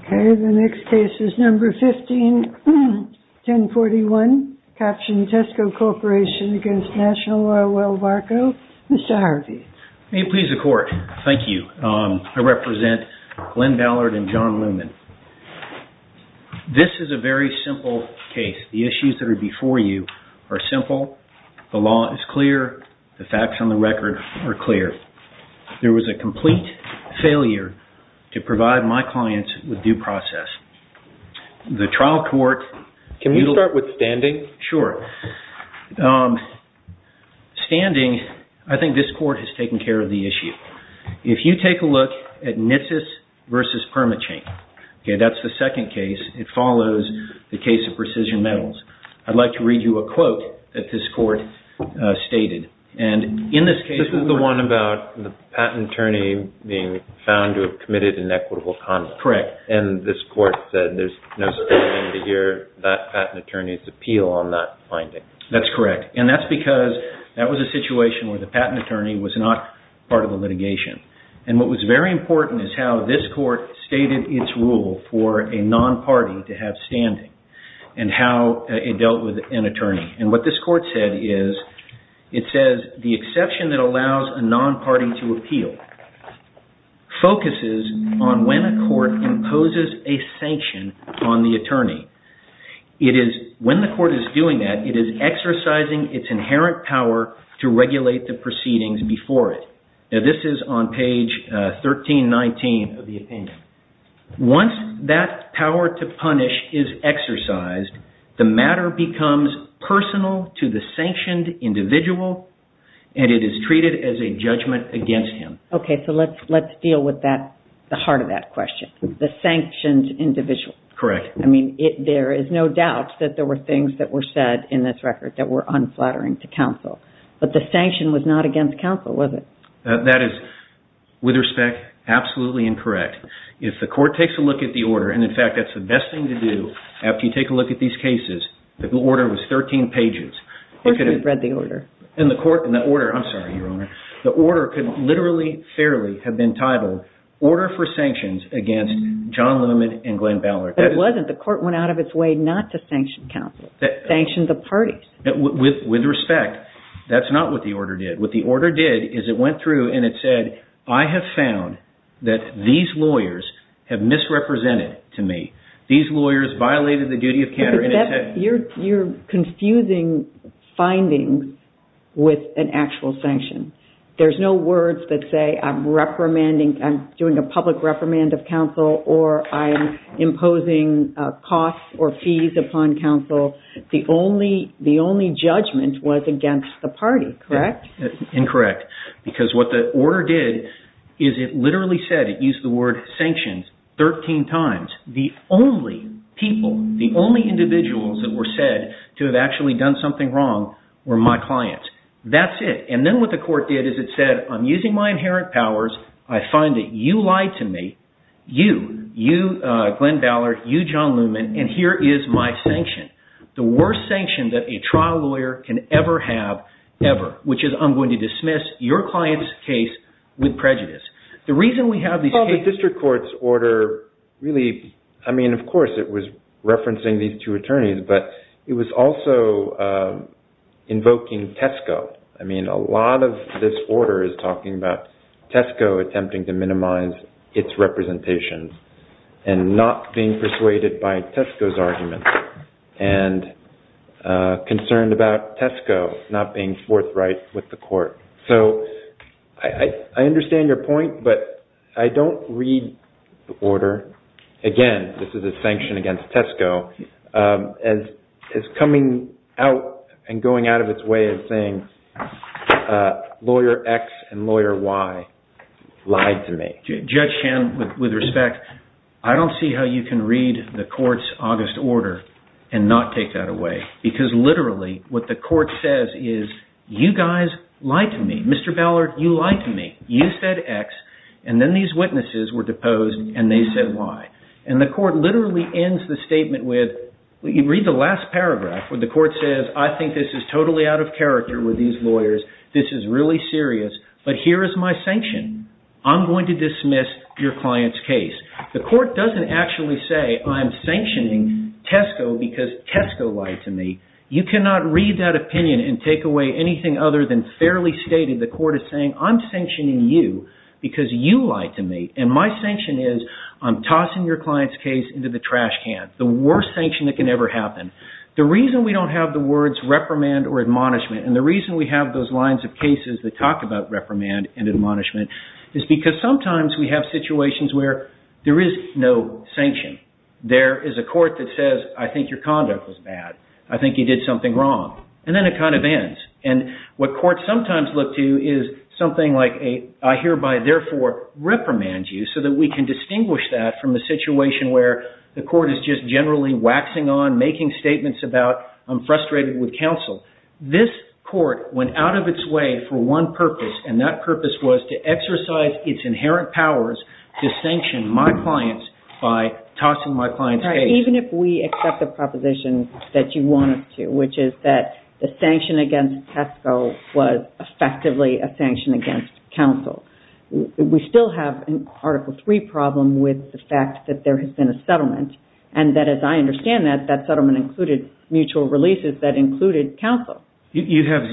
Okay, the next case is number 15-1041. Tesco Corporation v. National Oilwell Varco, L.P. May it please the Court, thank you. I represent Glenn Ballard and John Luman. This is a very simple case. The issues that are before you are simple, the law is clear, the facts on the record are clear. There was a complete failure to provide my clients with due process. The trial court... Can we start with standing? Sure. Standing, I think this court has taken care of the issue. If you take a look at NITSS v. Permachain, that's the second case, it follows the case of Precision Metals. I'd like to read you a quote that this court stated. This is the one about the patent attorney being found to have committed inequitable conduct. Correct. And this court said there's no standing to hear that patent attorney's appeal on that finding. That's correct. And that's because that was a situation where the patent attorney was not part of the litigation. And what was very important is how this court stated its rule for a non-party to have standing and how it dealt with an attorney. And what this court said is, it says, The exception that allows a non-party to appeal focuses on when a court imposes a sanction on the attorney. When the court is doing that, it is exercising its inherent power to regulate the proceedings before it. This is on page 1319 of the opinion. Once that power to punish is exercised, the matter becomes personal to the sanctioned individual and it is treated as a judgment against him. Okay, so let's deal with the heart of that question, the sanctioned individual. Correct. I mean, there is no doubt that there were things that were said in this record that were unflattering to counsel. But the sanction was not against counsel, was it? That is, with respect, absolutely incorrect. If the court takes a look at the order, and in fact, that's the best thing to do after you take a look at these cases, if the order was 13 pages, it could have... Of course we've read the order. In the court, in the order, I'm sorry, Your Honor. The order could literally, fairly have been titled, Order for Sanctions Against John Lemon and Glenn Ballard. But it wasn't. The court went out of its way not to sanction counsel. Sanction the parties. With respect, that's not what the order did. What the order did is it went through and it said, I have found that these lawyers have misrepresented to me. These lawyers violated the duty of counterintuitive... You're confusing findings with an actual sanction. There's no words that say I'm reprimanding, I'm doing a public reprimand of counsel or I'm imposing costs or fees upon counsel. The only judgment was against the party, correct? Incorrect. Because what the order did is it literally said, it used the word sanctions 13 times. The only people, the only individuals that were said to have actually done something wrong were my clients. That's it. And then what the court did is it said, I'm using my inherent powers. I find that you lied to me. You, Glenn Ballard, you, John Lemon, and here is my sanction. The worst sanction that a trial lawyer can ever have ever, which is I'm going to dismiss your client's case with prejudice. The reason we have these cases... Well, the district court's order really, I mean, of course, it was referencing these two attorneys, but it was also invoking Tesco. I mean, a lot of this order is talking about Tesco attempting to minimize its representation and not being persuaded by Tesco's argument and concerned about Tesco not being forthright with the court. So I understand your point, but I don't read the order. Again, this is a sanction against Tesco. As coming out and going out of its way of saying, lawyer X and lawyer Y lied to me. Judge Chan, with respect, I don't see how you can read the court's August order and not take that away. Because literally, what the court says is, you guys lied to me. Mr. Ballard, you lied to me. You said X, and then these witnesses were deposed, and they said Y. And the court literally ends the statement with... Read the last paragraph where the court says, I think this is totally out of character with these lawyers. This is really serious, but here is my sanction. I'm going to dismiss your client's case. The court doesn't actually say, I'm sanctioning Tesco because Tesco lied to me. You cannot read that opinion and take away anything other than fairly stated. The court is saying, I'm sanctioning you because you lied to me. And my sanction is, I'm tossing your client's case into the trash can. The worst sanction that can ever happen. The reason we don't have the words reprimand or admonishment, and the reason we have those lines of cases that talk about reprimand and admonishment, is because sometimes we have situations where there is no sanction. There is a court that says, I think your conduct was bad. I think you did something wrong. And then it kind of ends. And what courts sometimes look to is something like, I hereby therefore reprimand you, so that we can distinguish that from a situation where the court is just generally waxing on, making statements about, I'm frustrated with counsel. This court went out of its way for one purpose, and that purpose was to exercise its inherent powers to sanction my clients by tossing my client's case. Even if we accept the proposition that you want us to, which is that the sanction against Tesco was effectively a sanction against counsel, we still have an Article III problem with the fact that there has been a settlement. And that, as I understand that, that settlement included mutual releases that included counsel. You have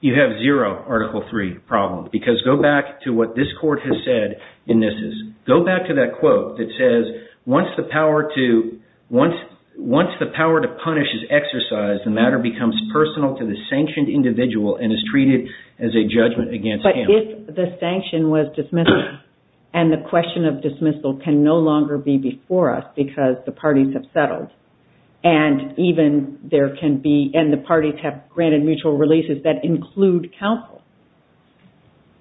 zero Article III problem. Because go back to what this court has said, Go back to that quote that says, Once the power to punish is exercised, the matter becomes personal to the sanctioned individual and is treated as a judgment against counsel. But if the sanction was dismissal, and the question of dismissal can no longer be before us because the parties have settled, and the parties have granted mutual releases that include counsel,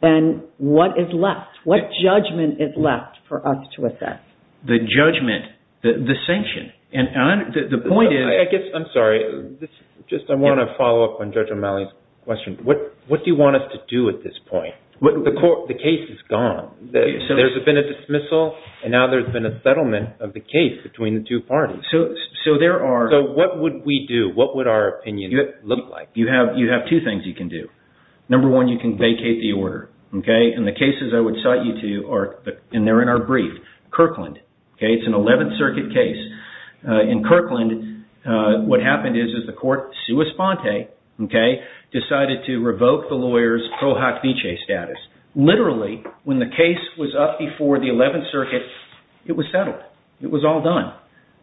then what is left? What judgment is left for us to assess? The judgment, the sanction. The point is... I'm sorry. I want to follow up on Judge O'Malley's question. What do you want us to do at this point? The case is gone. There's been a dismissal, and now there's been a settlement of the case between the two parties. So there are... So what would we do? What would our opinion look like? You have two things you can do. Number one, you can vacate the order. And the cases I would cite you to are... And they're in our brief. Kirkland. It's an 11th Circuit case. In Kirkland, what happened is the court, sua sponte, decided to revoke the lawyer's pro hoc vicege status. Literally, when the case was up before the 11th Circuit, it was settled. It was all done.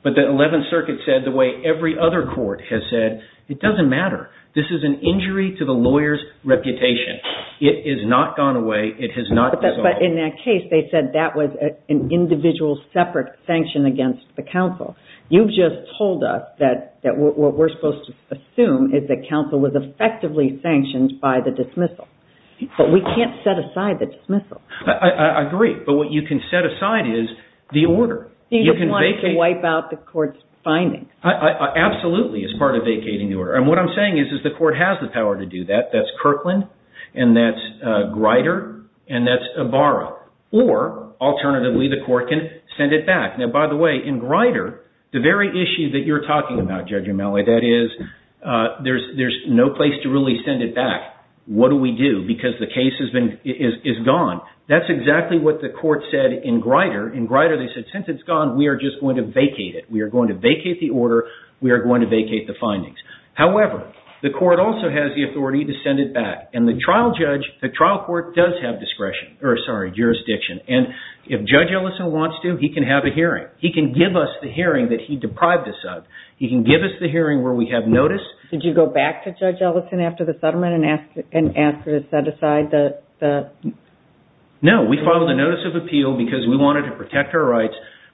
But the 11th Circuit said the way every other court has said, It doesn't matter. This is an injury to the lawyer's reputation. It has not gone away. It has not dissolved. But in that case, they said that was an individual separate sanction against the counsel. You've just told us that what we're supposed to assume is that counsel was effectively sanctioned by the dismissal. But we can't set aside the dismissal. I agree. But what you can set aside is the order. He just wants to wipe out the court's findings. Absolutely, as part of vacating the order. And what I'm saying is the court has the power to do that. That's Kirkland, and that's Greider, and that's Ibarra. Or, alternatively, the court can send it back. Now, by the way, in Greider, the very issue that you're talking about, Judge Umeli, that is, there's no place to really send it back. What do we do? Because the case is gone. That's exactly what the court said in Greider. In Greider, they said, Since it's gone, we are just going to vacate it. We are going to vacate the order. We are going to vacate the findings. However, the court also has the authority to send it back. And the trial court does have jurisdiction. And if Judge Ellison wants to, he can have a hearing. He can give us the hearing that he deprived us of. He can give us the hearing where we have notice. Did you go back to Judge Ellison after the settlement and ask her to set aside the...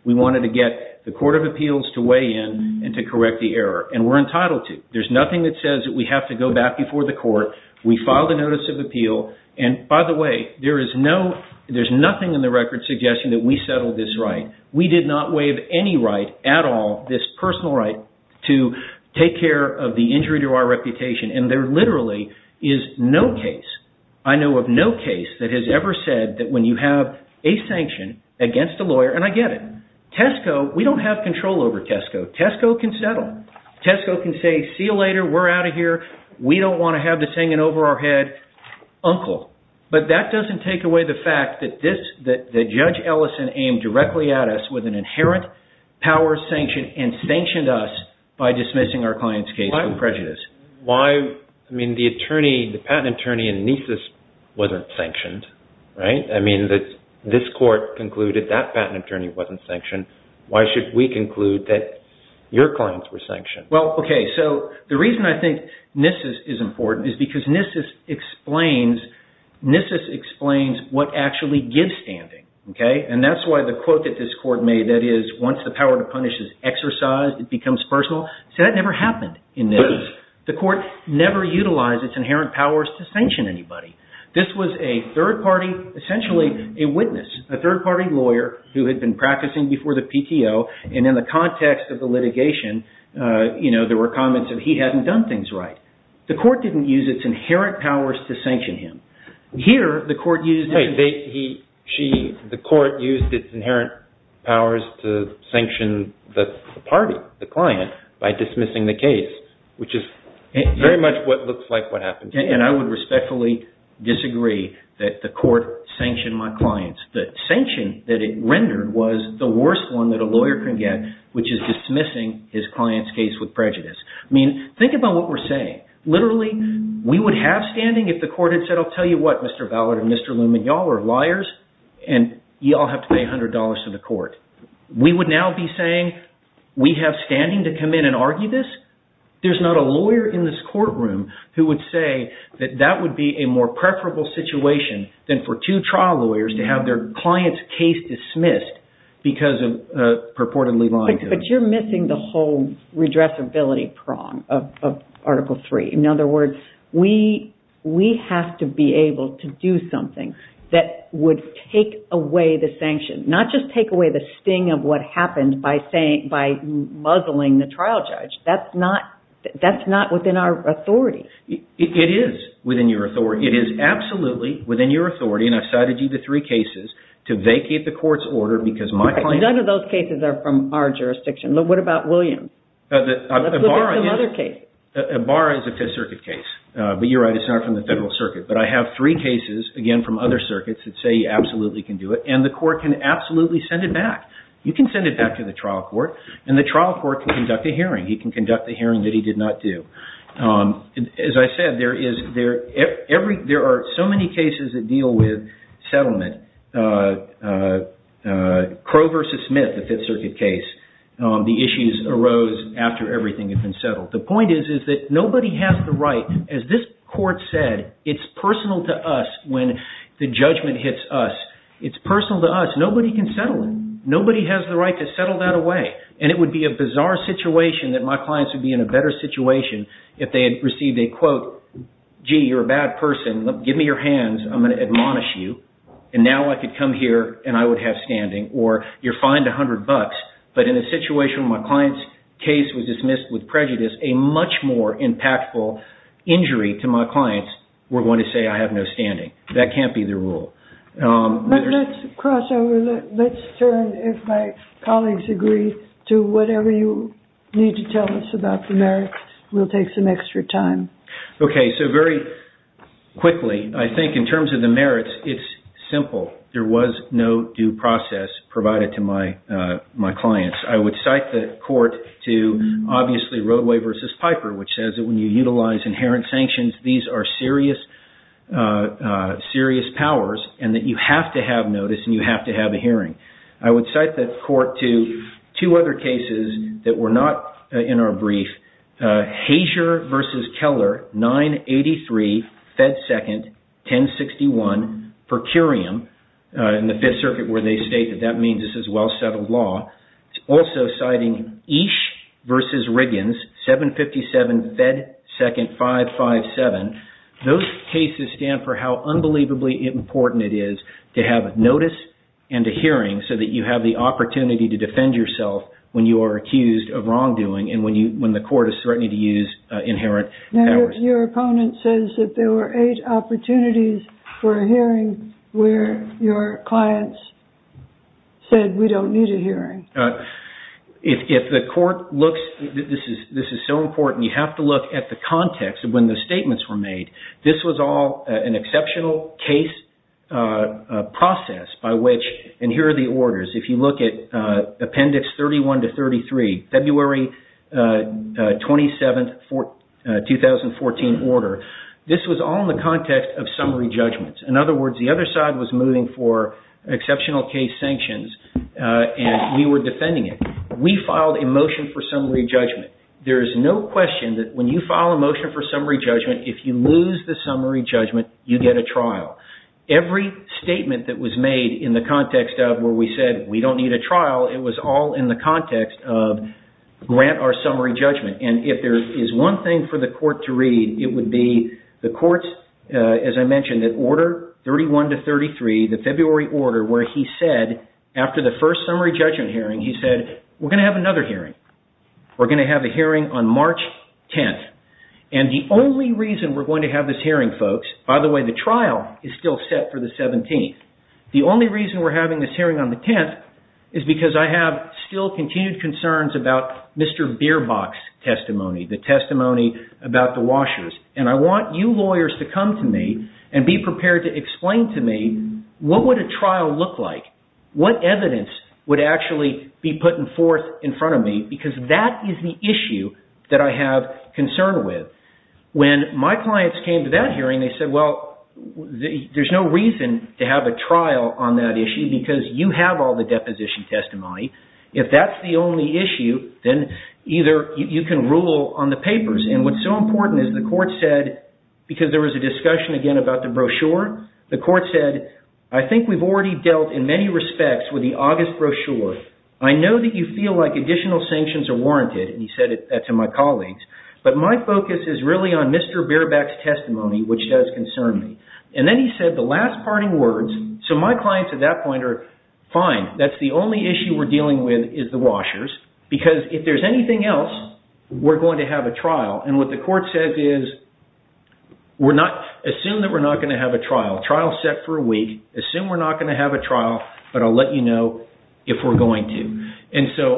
We wanted to get the Court of Appeals to weigh in and to correct the error. And we're entitled to. There's nothing that says that we have to go back before the court. We filed a notice of appeal. And, by the way, there's nothing in the record suggesting that we settled this right. We did not waive any right at all, this personal right, to take care of the injury to our reputation. And there literally is no case, I know of no case, that has ever said that when you have a sanction against a lawyer... And I get it. Tesco, we don't have control over Tesco. Tesco can settle. Tesco can say, see you later. We're out of here. We don't want to have this hanging over our head. Uncle. But that doesn't take away the fact that Judge Ellison aimed directly at us with an inherent power sanction and sanctioned us by dismissing our client's case of prejudice. Why? I mean, the patent attorney in Nisus wasn't sanctioned, right? I mean, this court concluded that patent attorney wasn't sanctioned. Why should we conclude that your clients were sanctioned? Well, okay. So the reason I think Nisus is important is because Nisus explains what actually gives standing. And that's why the quote that this court made, that is, once the power to punish is exercised, it becomes personal. See, that never happened in Nisus. The court never utilized its inherent powers to sanction anybody. This was a third-party, essentially a witness, a third-party lawyer who had been practicing before the PTO, and in the context of the litigation, you know, there were comments that he hadn't done things right. The court didn't use its inherent powers to sanction him. Here, the court used it. The court used its inherent powers to sanction the party, the client, by dismissing the case, which is very much what looks like what happened. And I would respectfully disagree that the court sanctioned my clients. The sanction that it rendered was the worst one that a lawyer can get, which is dismissing his client's case with prejudice. I mean, think about what we're saying. Literally, we would have standing if the court had said, I'll tell you what, Mr. Ballard and Mr. Luman, y'all are liars, and y'all have to pay $100 to the court. We would now be saying, we have standing to come in and argue this? There's not a lawyer in this courtroom who would say that that would be a more preferable situation than for two trial lawyers to have their client's case dismissed because of purportedly lying to them. But you're missing the whole redressability prong of Article III. In other words, we have to be able to do something that would take away the sanction, not just take away the sting of what happened by muzzling the trial judge. That's not within our authority. It is within your authority. It is absolutely within your authority, and I've cited you to three cases to vacate the court's order because my client... None of those cases are from our jurisdiction. What about Williams? Let's look at some other cases. Ibarra is a Fifth Circuit case, but you're right, it's not from the Federal Circuit. But I have three cases, again, from other circuits that say you absolutely can do it, and the court can absolutely send it back. You can send it back to the trial court, and the trial court can conduct a hearing. He can conduct a hearing that he did not do. As I said, there are so many cases that deal with settlement. Crow v. Smith, the Fifth Circuit case, the issues arose after everything had been settled. The point is that nobody has the right, as this court said, it's personal to us when the judgment hits us. It's personal to us. Nobody can settle it. Nobody has the right to settle that away, and it would be a bizarre situation that my clients would be in a better situation if they had received a quote, gee, you're a bad person, give me your hands, I'm going to admonish you, and now I could come here and I would have standing, or you're fined a hundred bucks, but in a situation where my client's case was dismissed with prejudice, a much more impactful injury to my clients were going to say I have no standing. That can't be the rule. Let's cross over. Let's turn, if my colleagues agree, to whatever you need to tell us about the merits. We'll take some extra time. Okay, so very quickly, I think in terms of the merits, it's simple. There was no due process provided to my clients. I would cite the court to, obviously, Roadway v. Piper, which says that when you utilize inherent sanctions, these are serious powers, and that you have to have notice and you have to have a hearing. I would cite the court to two other cases that were not in our brief, Hazier v. Keller, 983, Fed Second, 1061, per curiam, in the Fifth Circuit where they state that that means this is well-settled law. It's also citing Eash v. Riggins, 757, Fed Second, 557. Those cases stand for how unbelievably important it is to have notice and a hearing so that you have the opportunity to defend yourself when you are accused of wrongdoing and when the court is threatening to use inherent powers. Your opponent says that there were eight opportunities for a hearing where your clients said, we don't need a hearing. If the court looks, this is so important, you have to look at the context of when the statements were made. This was all an exceptional case process by which, and here are the orders. If you look at Appendix 31 to 33, February 27, 2014 order, this was all in the context of summary judgments. In other words, the other side was moving for exceptional case sanctions and we were defending it. We filed a motion for summary judgment. There is no question that when you file a motion for summary judgment, if you lose the summary judgment, you get a trial. Every statement that was made in the context of where we said, we don't need a trial, it was all in the context of grant our summary judgment. If there is one thing for the court to read, it would be the court, as I mentioned, that order 31 to 33, the February order, where he said, after the first summary judgment hearing, he said, we're going to have another hearing. We're going to have a hearing on March 10th. The only reason we're going to have this hearing, folks, by the way, the trial is still set for the 17th. The only reason we're having this hearing on the 10th is because I have still continued concerns about Mr. Bierbach's testimony, the testimony about the washers. I want you lawyers to come to me and be prepared to explain to me what would a trial look like, what evidence would actually be put forth in front of me, because that is the issue that I have concern with. When my clients came to that hearing, they said, well, there's no reason to have a trial on that issue because you have all the deposition testimony. If that's the only issue, then either you can rule on the papers. What's so important is the court said, because there was a discussion again about the brochure, the court said, I think we've already dealt in many respects with the August brochure. I know that you feel like additional sanctions are warranted, and he said that to my colleagues, but my focus is really on Mr. Bierbach's testimony, which does concern me. Then he said the last parting words, so my clients at that point are, fine, that's the only issue we're dealing with is the washers, because if there's anything else, we're going to have a trial, and what the court said is, assume that we're not going to have a trial, trial set for a week, assume we're not going to have a trial, but I'll let you know if we're going to.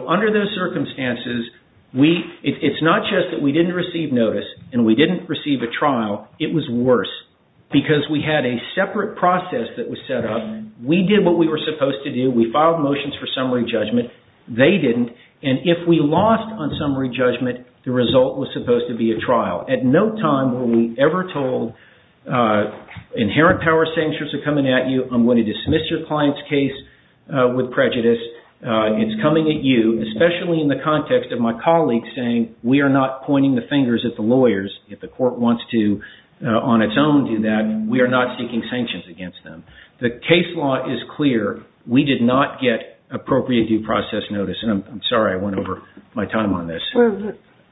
Under those circumstances, it's not just that we didn't receive notice and we didn't receive a trial, it was worse, because we had a separate process that was set up. We did what we were supposed to do. We filed motions for summary judgment. They didn't, and if we lost on summary judgment, the result was supposed to be a trial. At no time were we ever told, inherent power sanctions are coming at you, I'm going to dismiss your client's case with prejudice, it's coming at you, especially in the context of my colleagues saying, we are not pointing the fingers at the lawyers. If the court wants to, on its own, do that, we are not seeking sanctions against them. The case law is clear. We did not get appropriate due process notice, and I'm sorry I went over my time on this.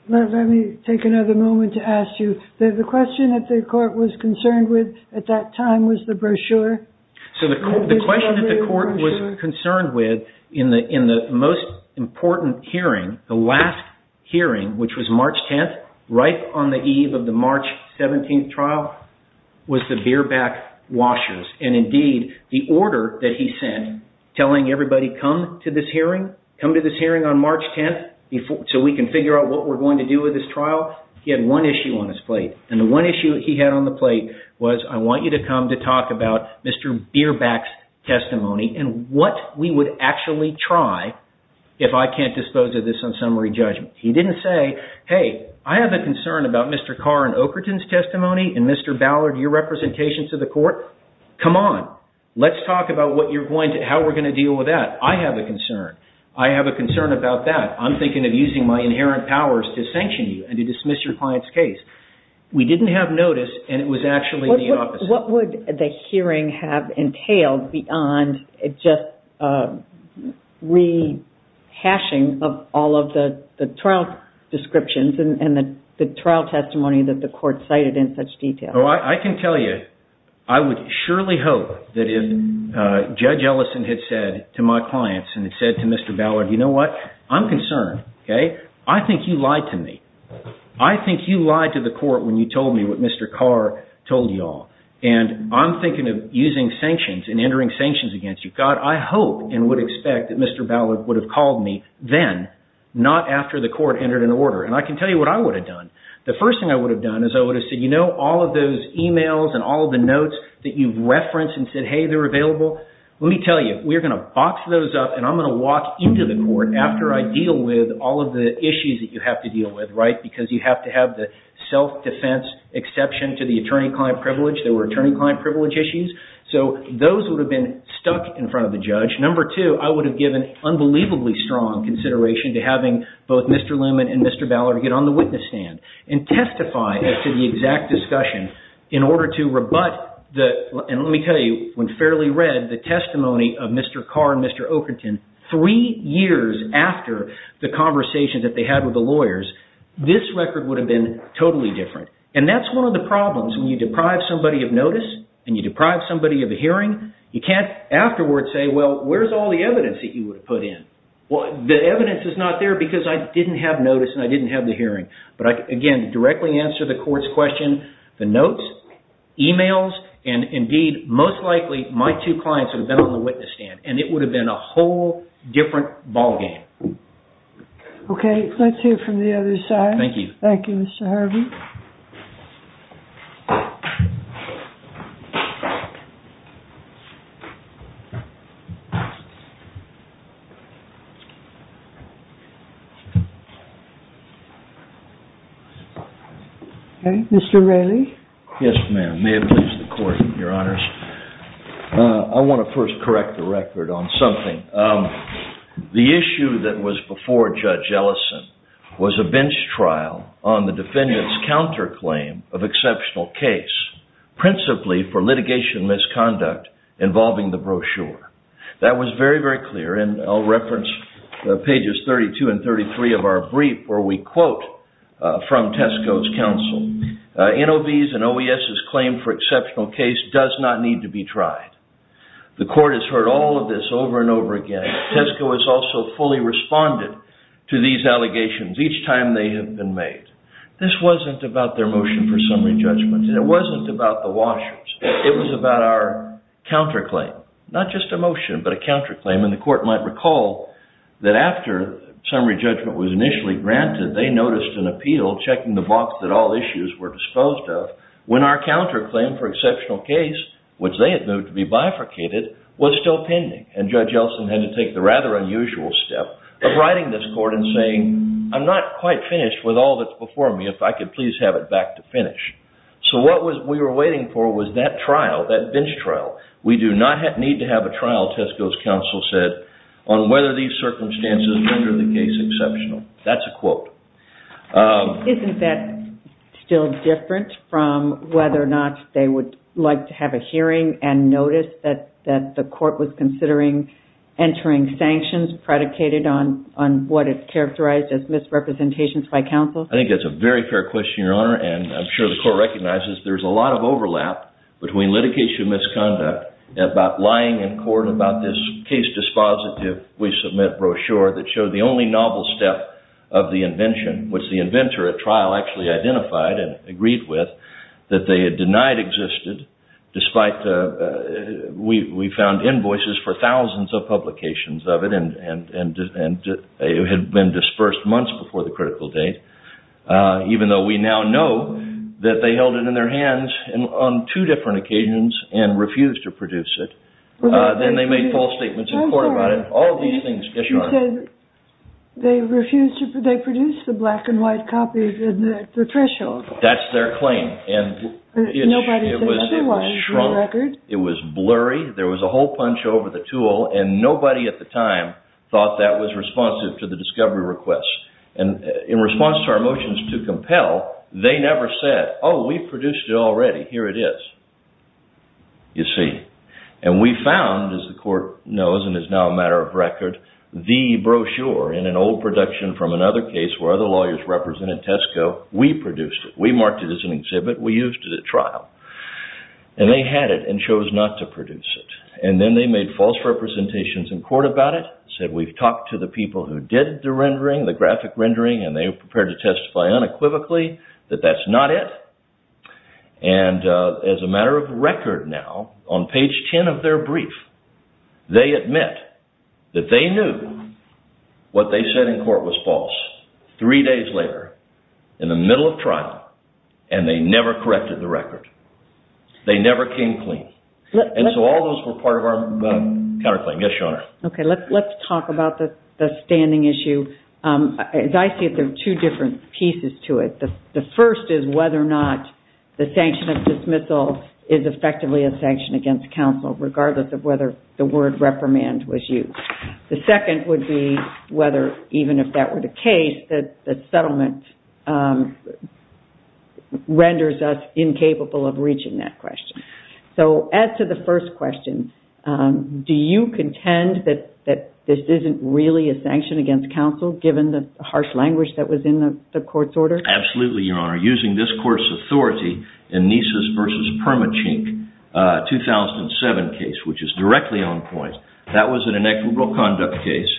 Let me take another moment to ask you, the question that the court was concerned with at that time was the brochure. So the question that the court was concerned with in the most important hearing, the last hearing, which was March 10th, right on the eve of the March 17th trial, was the beer back washers, and indeed, the order that he sent, telling everybody, come to this hearing, come to this hearing on March 10th, so we can figure out what we're going to do with this trial, he had one issue on his plate. And the one issue he had on the plate was, I want you to come to talk about Mr. Beerback's testimony, and what we would actually try if I can't dispose of this on summary judgment. He didn't say, hey, I have a concern about Mr. Carr and Oakerton's testimony, and Mr. Ballard, your representation to the court, come on, let's talk about how we're going to deal with that. I have a concern. I have a concern about that. I'm thinking of using my inherent powers to sanction you and to dismiss your client's case. We didn't have notice, and it was actually the opposite. What would the hearing have entailed beyond just rehashing of all of the trial descriptions and the trial testimony that the court cited in such detail? Well, I can tell you, I would surely hope that if Judge Ellison had said to my clients, and had said to Mr. Ballard, you know what, I'm concerned. I think you lied to me. I think you lied to the court when you told me what Mr. Carr told you all. And I'm thinking of using sanctions and entering sanctions against you. God, I hope and would expect that Mr. Ballard would have called me then, not after the court entered an order. And I can tell you what I would have done. The first thing I would have done is I would have said, you know all of those emails and all of the notes that you've referenced and said, hey, they're available? Let me tell you, we're going to box those up and I'm going to walk into the court after I deal with all of the issues that you have to deal with, right? Because you have to have the self-defense exception to the attorney-client privilege. There were attorney-client privilege issues. So those would have been stuck in front of the judge. Number two, I would have given unbelievably strong consideration to having both Mr. Luman and Mr. Ballard get on the witness stand and testify to the exact discussion in order to rebut the, and let me tell you, when fairly read the testimony of Mr. Carr and Mr. Oakerton, three years after the conversation that they had with the lawyers, this record would have been totally different. And that's one of the problems. When you deprive somebody of notice and you deprive somebody of a hearing, you can't afterwards say, well, where's all the evidence that you would have put in? The evidence is not there because I didn't have notice and I didn't have the hearing. But again, to directly answer the court's question, the notes, emails, and indeed, most likely, my two clients would have been on the witness stand and it would have been a whole different ballgame. Okay, let's hear from the other side. Thank you. Thank you, Mr. Harvey. Okay, Mr. Raley. Yes, ma'am. May it please the court, your honors. I want to first correct the record on something. The issue that was before Judge Ellison was a bench trial on the defendant's counterclaim of exceptional case, principally for litigation misconduct involving the brochure. That was very, very clear, and I'll reference pages 32 and 33 of our brief where we quote from Tesco's counsel, NOV's and OES's claim for exceptional case does not need to be tried. The court has heard all of this over and over again. Tesco has also fully responded to these allegations each time they have been made. This wasn't about their motion for summary judgment. It wasn't about the Washers. It was about our counterclaim. Not just a motion, but a counterclaim, and the court might recall that after summary judgment was initially granted, they noticed an appeal checking the box that all issues were disposed of when our counterclaim for exceptional case, which they had moved to be bifurcated, was still pending, and Judge Ellison had to take the rather unusual step of writing this court and saying, I'm not quite finished with all that's before me. If I could please have it back to finish. So what we were waiting for was that trial, that bench trial. We do not need to have a trial, Tesco's counsel said, on whether these circumstances render the case exceptional. That's a quote. Isn't that still different from whether or not they would like to have a hearing and notice that the court was considering entering sanctions predicated on what is characterized as misrepresentations by counsel? I think that's a very fair question, Your Honor, and I'm sure the court recognizes there's a lot of overlap between litigation misconduct about lying in court about this case dispositive We submit brochure that showed the only novel step of the invention, which the inventor at trial actually identified and agreed with, that they had denied existed, despite we found invoices for thousands of publications of it and it had been dispersed months before the critical date, even though we now know that they held it in their hands on two different occasions and refused to produce it. Then they made false statements in court about it You said they produced the black and white copies at the threshold. That's their claim. Nobody thinks there was no record. It was blurry. There was a whole punch over the tool and nobody at the time thought that was responsive to the discovery request. In response to our motions to compel, they never said, Oh, we produced it already. Here it is. You see. And we found, as the court knows and is now a matter of record, the brochure in an old production from another case where other lawyers represented Tesco. We produced it. We marked it as an exhibit. We used it at trial. And they had it and chose not to produce it. And then they made false representations in court about it, said we've talked to the people who did the rendering, the graphic rendering, and they were prepared to testify unequivocally that that's not it. And as a matter of record now, on page 10 of their brief, they admit that they knew what they said in court was false. Three days later, in the middle of trial, and they never corrected the record. They never came clean. And so all those were part of our counterclaim. Yes, Your Honor. Okay, let's talk about the standing issue. As I see it, there are two different pieces to it. The first is whether or not the sanction of dismissal is effectively a sanction against counsel, regardless of whether the word reprimand was used. The second would be whether, even if that were the case, that the settlement renders us incapable of reaching that question. So as to the first question, do you contend that this isn't really a sanction against counsel, given the harsh language that was in the court's order? Absolutely, Your Honor. Using this court's authority in Nises v. Permachink 2007 case, which is directly on point, that was an inequitable conduct case.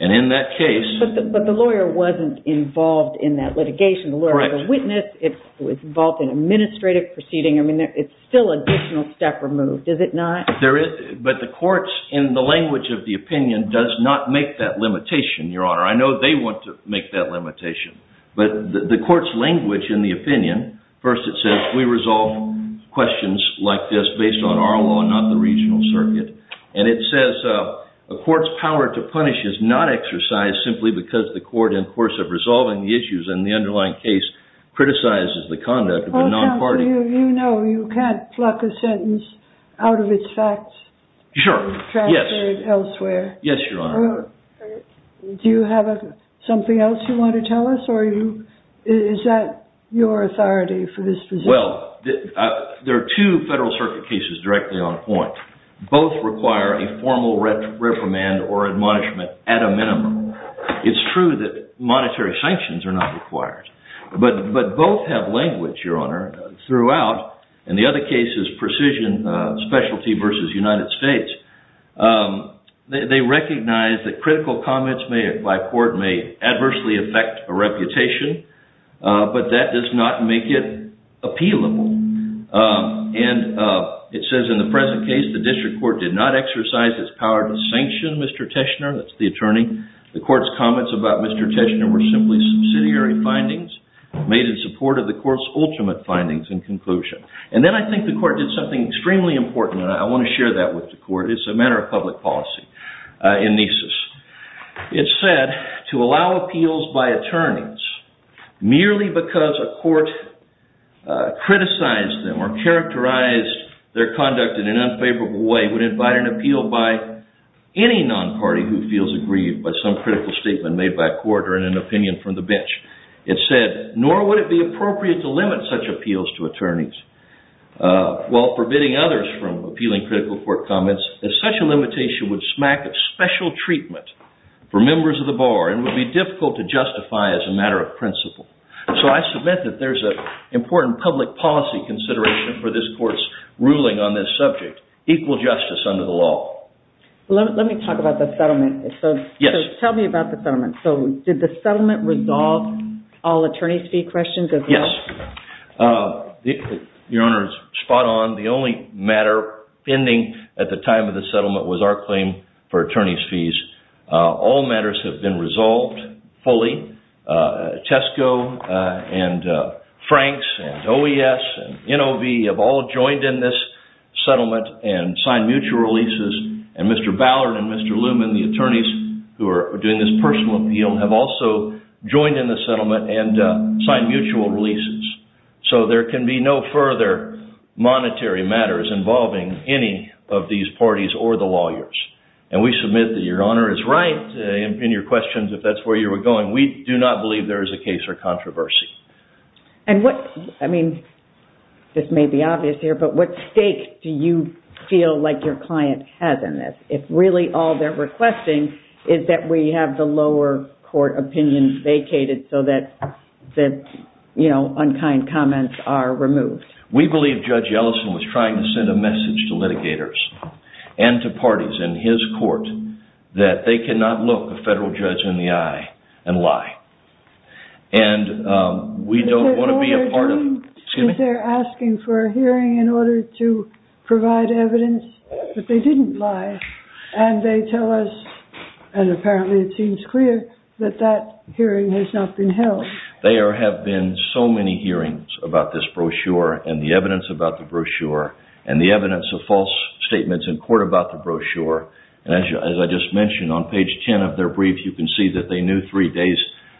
And in that case... But the lawyer wasn't involved in that litigation. The lawyer was a witness. It was involved in administrative proceeding. I mean, it's still additional step removed, is it not? But the court's, in the language of the opinion, does not make that limitation, Your Honor. I know they want to make that limitation. But the court's language in the opinion, first it says, we resolve questions like this based on our law and not the regional circuit. And it says, a court's power to punish is not exercised simply because the court, in the course of resolving the issues in the underlying case, criticizes the conduct of a non-party... Well, you know you can't pluck a sentence out of its facts... Sure, yes. ...and transfer it elsewhere. Yes, Your Honor. Do you have something else you want to tell us? Is that your authority for this position? Well, there are two Federal Circuit cases directly on point. Both require a formal reprimand or admonishment at a minimum. It's true that monetary sanctions are not required. But both have language, Your Honor, throughout, and the other case is precision specialty versus United States. They recognize that critical comments by court may adversely affect a reputation, but that does not make it appealable. And it says in the present case, the district court did not exercise its power to sanction Mr. Teschner, that's the attorney. The court's comments about Mr. Teschner were simply subsidiary findings made in support of the court's ultimate findings and conclusion. And then I think the court did something extremely important, and I want to share that with the court, it's a matter of public policy, in Nisus. It said, to allow appeals by attorneys merely because a court criticized them or characterized their conduct in an unfavorable way would invite an appeal by any non-party who feels aggrieved by some critical statement made by a court or an opinion from the bench. It said, nor would it be appropriate to limit such appeals to attorneys, while forbidding others from appealing critical court comments, as such a limitation would smack special treatment for members of the bar and would be difficult to justify as a matter of principle. So I submit that there's an important public policy consideration for this court's ruling on this subject, equal justice under the law. Let me talk about the settlement. Yes. Tell me about the settlement. So did the settlement resolve all attorney's fee questions as well? Yes. Your Honor, it's spot on. The only matter pending at the time of the settlement was our claim for attorney's fees. All matters have been resolved fully. Tesco and Franks and OES and NOV have all joined in this settlement and signed mutual releases. And Mr. Ballard and Mr. Luman, the attorneys who are doing this personal appeal, have also joined in the settlement and signed mutual releases. So there can be no further monetary matters involving any of these parties or the lawyers. And we submit that Your Honor is right in your questions if that's where you were going. We do not believe there is a case or controversy. And what, I mean, this may be obvious here, but what stake do you feel like your client has in this if really all they're requesting is that we have the lower court opinions vacated so that, you know, unkind comments are removed? We believe Judge Ellison was trying to send a message to litigators and to parties in his court that they cannot look a federal judge in the eye and lie. And we don't want to be a part of... They're asking for a hearing in order to provide evidence that they didn't lie. And they tell us, and apparently it seems clear, that that hearing has not been held. There have been so many hearings about this brochure and the evidence about the brochure and the evidence of false statements in court about the brochure. As I just mentioned, on page 10 of their brief you can see that they knew three days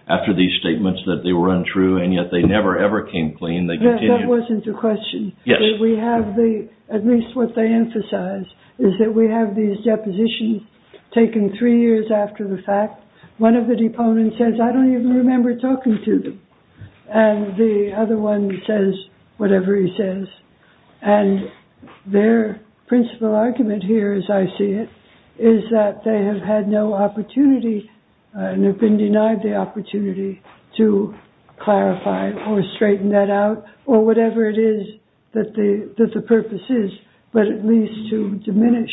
after these statements that they were untrue and yet they never ever came clean. That wasn't the question. Yes. We have the, at least what they emphasize, is that we have these depositions taken three years after the fact. One of the deponents says, I don't even remember talking to them. And the other one says whatever he says. And their principal argument here, as I see it, is that they have had no opportunity and have been denied the opportunity to clarify or straighten that out or whatever it is that the purpose is, but at least to diminish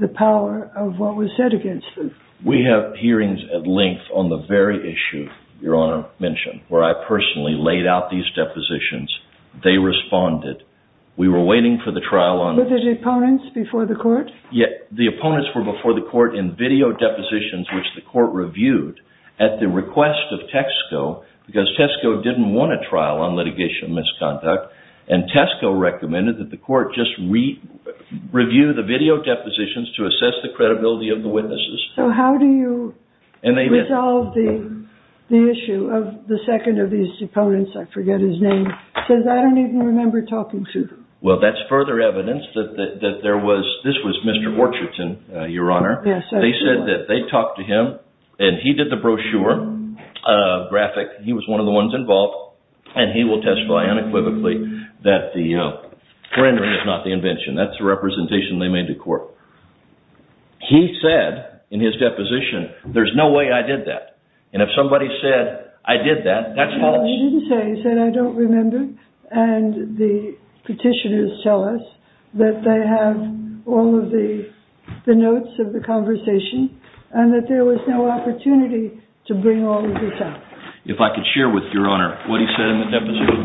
the power of what was said against them. We have hearings at length on the very issue Your Honor mentioned, where I personally laid out these depositions. They responded. We were waiting for the trial on... Were there deponents before the court? Yes. The opponents were before the court in video depositions which the court reviewed at the request of Tesco because Tesco didn't want a trial on litigation misconduct and Tesco recommended that the court just review the video depositions to assess the credibility of the witnesses. So how do you resolve the... the issue of the second of these opponents, I forget his name, says I don't even remember talking to? Well, that's further evidence that there was... This was Mr. Orcherton, Your Honor. Yes. They said that they talked to him and he did the brochure graphic. He was one of the ones involved and he will testify unequivocally that the rendering is not the invention. That's the representation they made to court. He said in his deposition, there's no way I did that and if somebody said, I did that, that's false. He didn't say, he said, I don't remember and the petitioners tell us that they have all of the... the notes of the conversation and that there was no opportunity to bring all of this up. If I could share with Your Honor what he said in the deposition.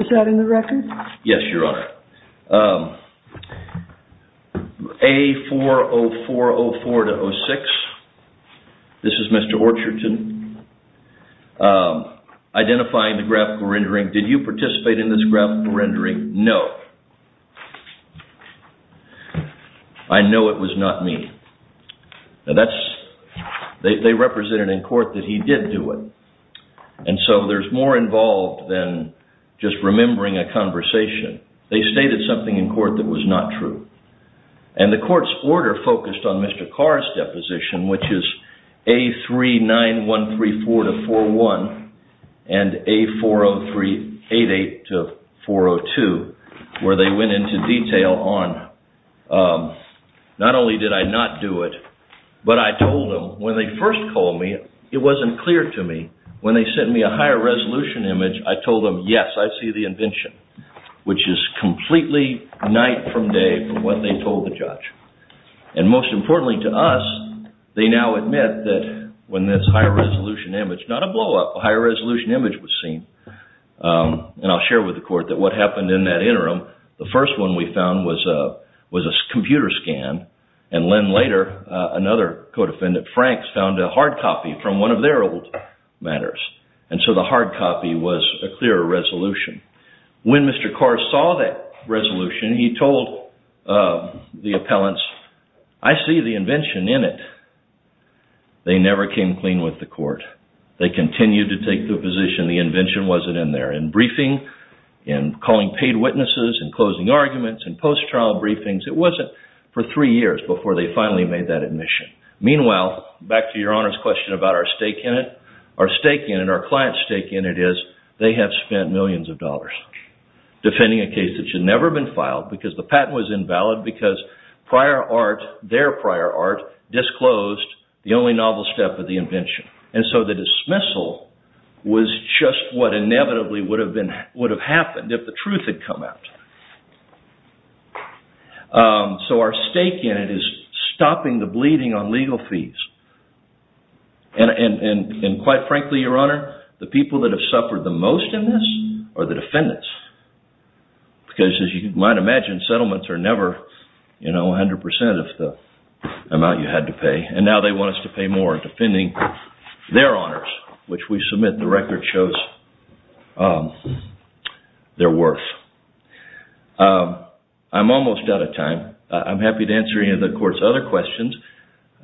Is that in the record? Yes, Your Honor. A40404-06. This is Mr. Orcherton. Identifying the graphical rendering. Did you participate in this graphical rendering? No. I know it was not me. They represented in court that he did do it and so there's more involved than just remembering a conversation. They stated something in court that was not true and the court's order focused on Mr. Carr's deposition which is A39134-41 and A40388-402 where they went into detail on not only did I not do it but I told them when they first called me it wasn't clear to me. When they sent me a higher resolution image I told them, yes, I see the invention which is completely night from day from what they told the judge and most importantly to us they now admit that when this higher resolution image not a blow up higher resolution image was seen and I'll share with the court that what happened in that interim the first one we found was a computer scan and then later another co-defendant, Frank found a hard copy from one of their old matters and so the hard copy was a clearer resolution. When Mr. Carr saw that resolution he told the appellants I see the invention in it. They never came clean with the court. They continued to take the position the invention wasn't in there. In briefing, in calling paid witnesses, in closing arguments, in post-trial briefings it wasn't for three years before they finally made that admission. Meanwhile, back to your Honor's question about our stake in it our stake in it our client's stake in it is they have spent millions of dollars defending a case that should never have been filed because the patent was invalid because prior art their prior art disclosed the only novel step of the invention. And so the dismissal was just what inevitably would have happened if the truth had come out. So our stake in it is stopping the bleeding on legal fees. And quite frankly, Your Honor the people that have suffered the most in this are the defendants. Because as you might imagine settlements are never you know, 100% of the amount you had to pay. And now they want us to pay more defending their honors which we submit the record shows their worth. I'm almost out of time. I'm happy to answer any of the court's other questions.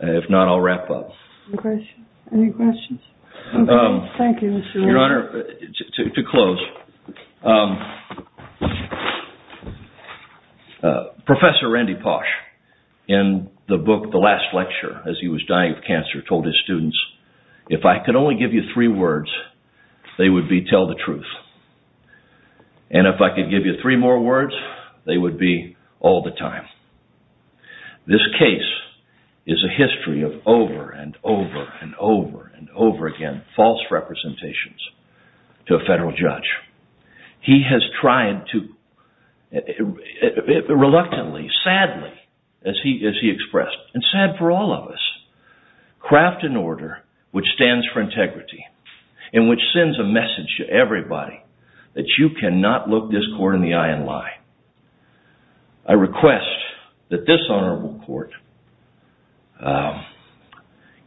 If not, I'll wrap up. Any questions? Thank you, Mr. Williams. Your Honor, to close Professor Randy Posh in the book The Last Lecture as he was dying of cancer told his students if I could only give you three words they would be tell the truth. And if I could give you three more words they would be all the time. This case is a history of over and over and over and over again false representations to a federal judge. He has tried to reluctantly, sadly as he expressed and sad for all of us craft an order which stands for integrity and which sends a message to everybody that you cannot look this court in the eye and lie. I request that this honorable court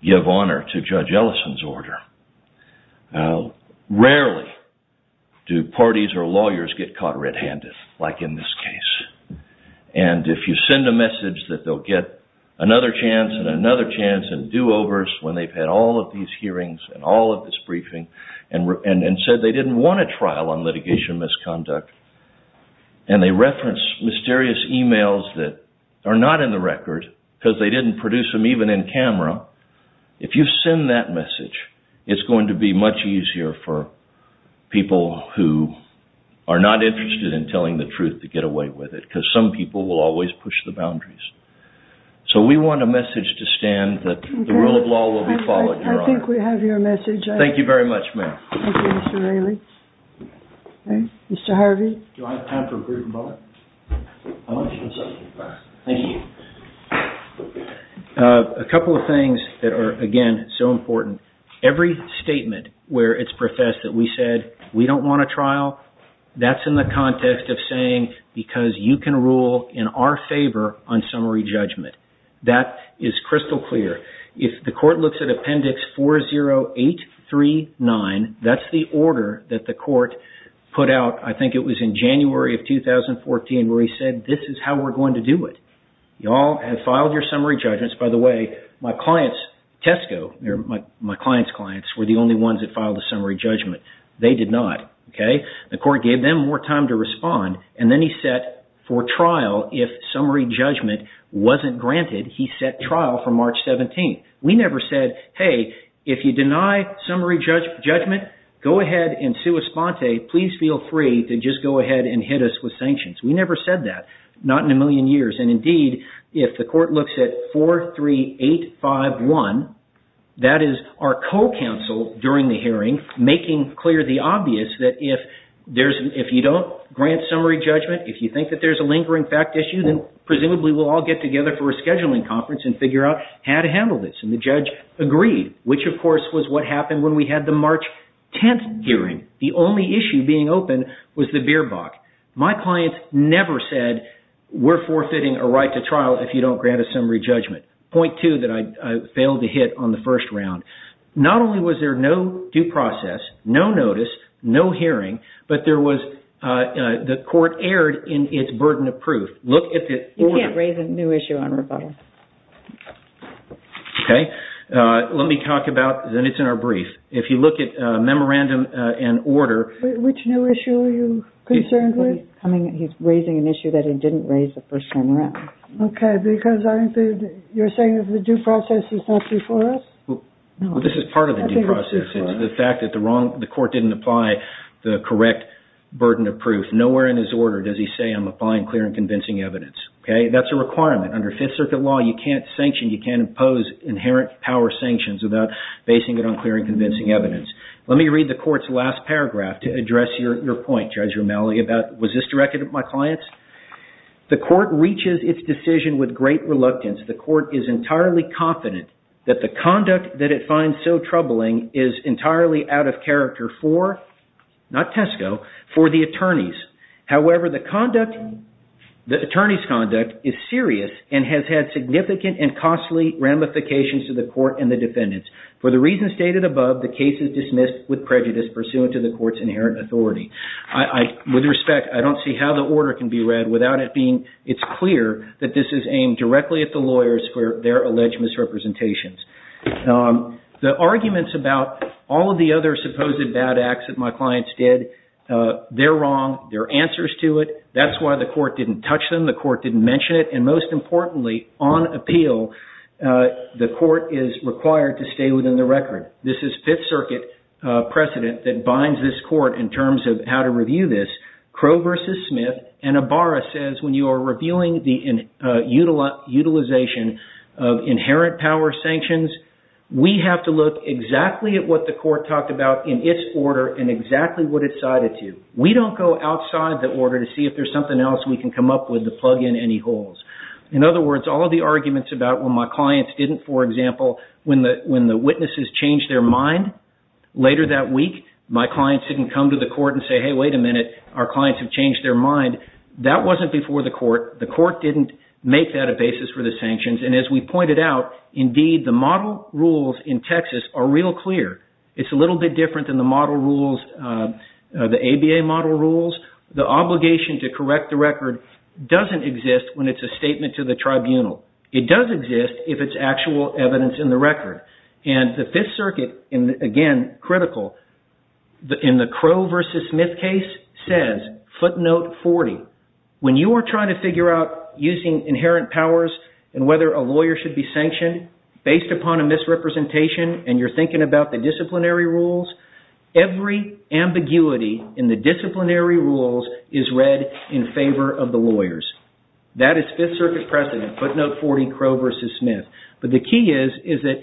give honor to Judge Ellison's order. Rarely do parties or lawyers get caught red-handed like in this case. And if you send a message that they'll get another chance and another chance and do-overs when they've had all of these hearings and all of this briefing and said they didn't want a trial on litigation misconduct and they reference mysterious emails that are not in the record because they didn't produce them even in camera if you send that message it's going to be much easier for people who are not interested in telling the truth to get away with it because some people will always push the boundaries. So we want a message to stand that the rule of law will be followed, Your Honor. I think we have your message. Thank you very much, ma'am. Thank you, Mr. Rayleigh. Mr. Harvey. Do I have time for a brief moment? I want to show something. Thank you. A couple of things that are, again, so important. Every statement where it's professed that we said we don't want a trial that's in the context of saying because you can rule in our favor on summary judgment. That is crystal clear. If the court looks at appendix 40839 that's the order that the court put out, I think it was in January of 2014 where he said, this is how we're going to do it. You all have filed your summary judgments. By the way, my clients, Tesco, my clients' clients were the only ones that filed a summary judgment. They did not, okay? The court gave them more time to respond and then he set for trial if summary judgment wasn't granted, he set trial for March 17th. We never said, hey, if you deny summary judgment, go ahead and sue Esponte. Please feel free to just go ahead and hit us with sanctions. We never said that. Not in a million years. And indeed, if the court looks at 43851, that is our co-counsel during the hearing making clear the obvious that if you don't grant summary judgment, if you think that there's a lingering fact issue, then presumably we'll all get together for a scheduling conference and figure out how to handle this. And the judge agreed, which of course was what happened when we had the March 10th hearing. The only issue being open was the beer box. My client never said we're forfeiting a right to trial if you don't grant a summary judgment. Point two that I failed to hit on the first round. Not only was there no due process, no notice, no hearing, but there was the court erred in its burden of proof. You can't raise a new issue on rebuttal. Okay. Let me talk about, then it's in our brief. If you look at memorandum and order. Which new issue are you concerned with? He's raising an issue that he didn't raise the first time around. Okay. Because you're saying the due process is not before us? Well, this is part of the due process. It's the fact that the court didn't apply the correct burden of proof. Nowhere in his order does he say I'm applying clear and convincing evidence. That's a requirement. Under Fifth Circuit law, you can't sanction, you can't impose inherent power sanctions without basing it on clear and convincing evidence. Let me read the court's last paragraph to address your point, Judge Romali. Was this directed at my clients? The court reaches its decision with great reluctance. The court is entirely confident that the conduct that it finds so troubling is entirely out of character for not Tesco, for the attorneys. However, the conduct, the attorney's conduct is serious and has had significant and costly ramifications to the court and the defendants. For the reasons stated above, the case is dismissed with prejudice and is pursuant to the court's inherent authority. With respect, I don't see how the order can be read without it being, it's clear that this is aimed directly at the lawyers for their alleged misrepresentations. The arguments about all of the other supposed bad acts that my clients did, they're wrong. There are answers to it. That's why the court didn't touch them. The court didn't mention it. And most importantly, on appeal, the court is required to stay within the record. This is Fifth Circuit precedent that binds this court in terms of how to review this. Crowe v. Smith and Ibarra says when you are reviewing the utilization of inherent power sanctions, we have to look exactly at what the court talked about in its order and exactly what it cited to. We don't go outside the order to see if there's something else we can come up with to plug in any holes. In other words, all of the arguments about when my clients didn't, for example, when the witnesses changed their mind later that week, my clients didn't come to the court and say, hey, wait a minute. Our clients have changed their mind. That wasn't before the court. The court didn't make that a basis for the sanctions. And as we pointed out, indeed, the model rules in Texas are real clear. It's a little bit different than the model rules, the ABA model rules. The obligation to correct the record doesn't exist when it's a statement to the tribunal. It does exist if it's actual evidence in the record. And the Fifth Circuit, again, critical, in the Crow v. Smith case, says footnote 40. When you are trying to figure out using inherent powers and whether a lawyer should be sanctioned based upon a misrepresentation and you're thinking about the disciplinary rules, every ambiguity in the disciplinary rules is read in favor of the lawyers. That is Fifth Circuit precedent, footnote 40, Crow v. Smith. But the key is that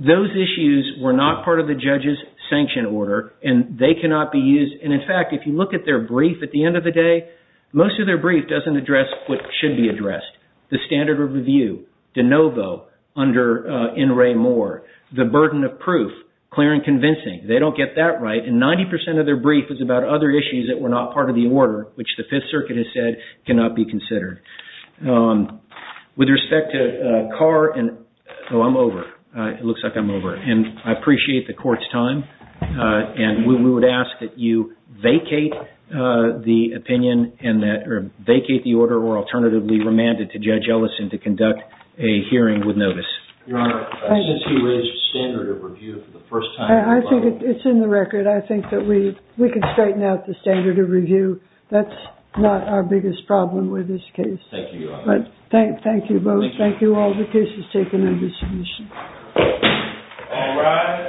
those issues were not part of the judge's sanction order and they cannot be used. And in fact, if you look at their brief at the end of the day, most of their brief doesn't address what should be addressed. The standard of review, de novo, under N. Ray Moore. The burden of proof, clear and convincing. They don't get that right and 90% of their brief is about other issues that were not part of the order, which the Fifth Circuit has said cannot be considered. With respect to Carr and... Oh, I'm over. It looks like I'm over. And I appreciate the court's time. And we would ask that you vacate the opinion and that... Vacate the order or alternatively remand it to Judge Ellison to conduct a hearing with notice. Your Honor, since he raised the standard of review for the first time... I think it's in the record. I think that we... We can straighten out the standard of review. That's not our biggest problem with this case. Thank you, Your Honor. Thank you both. Thank you all. The case is taken into submission. All rise.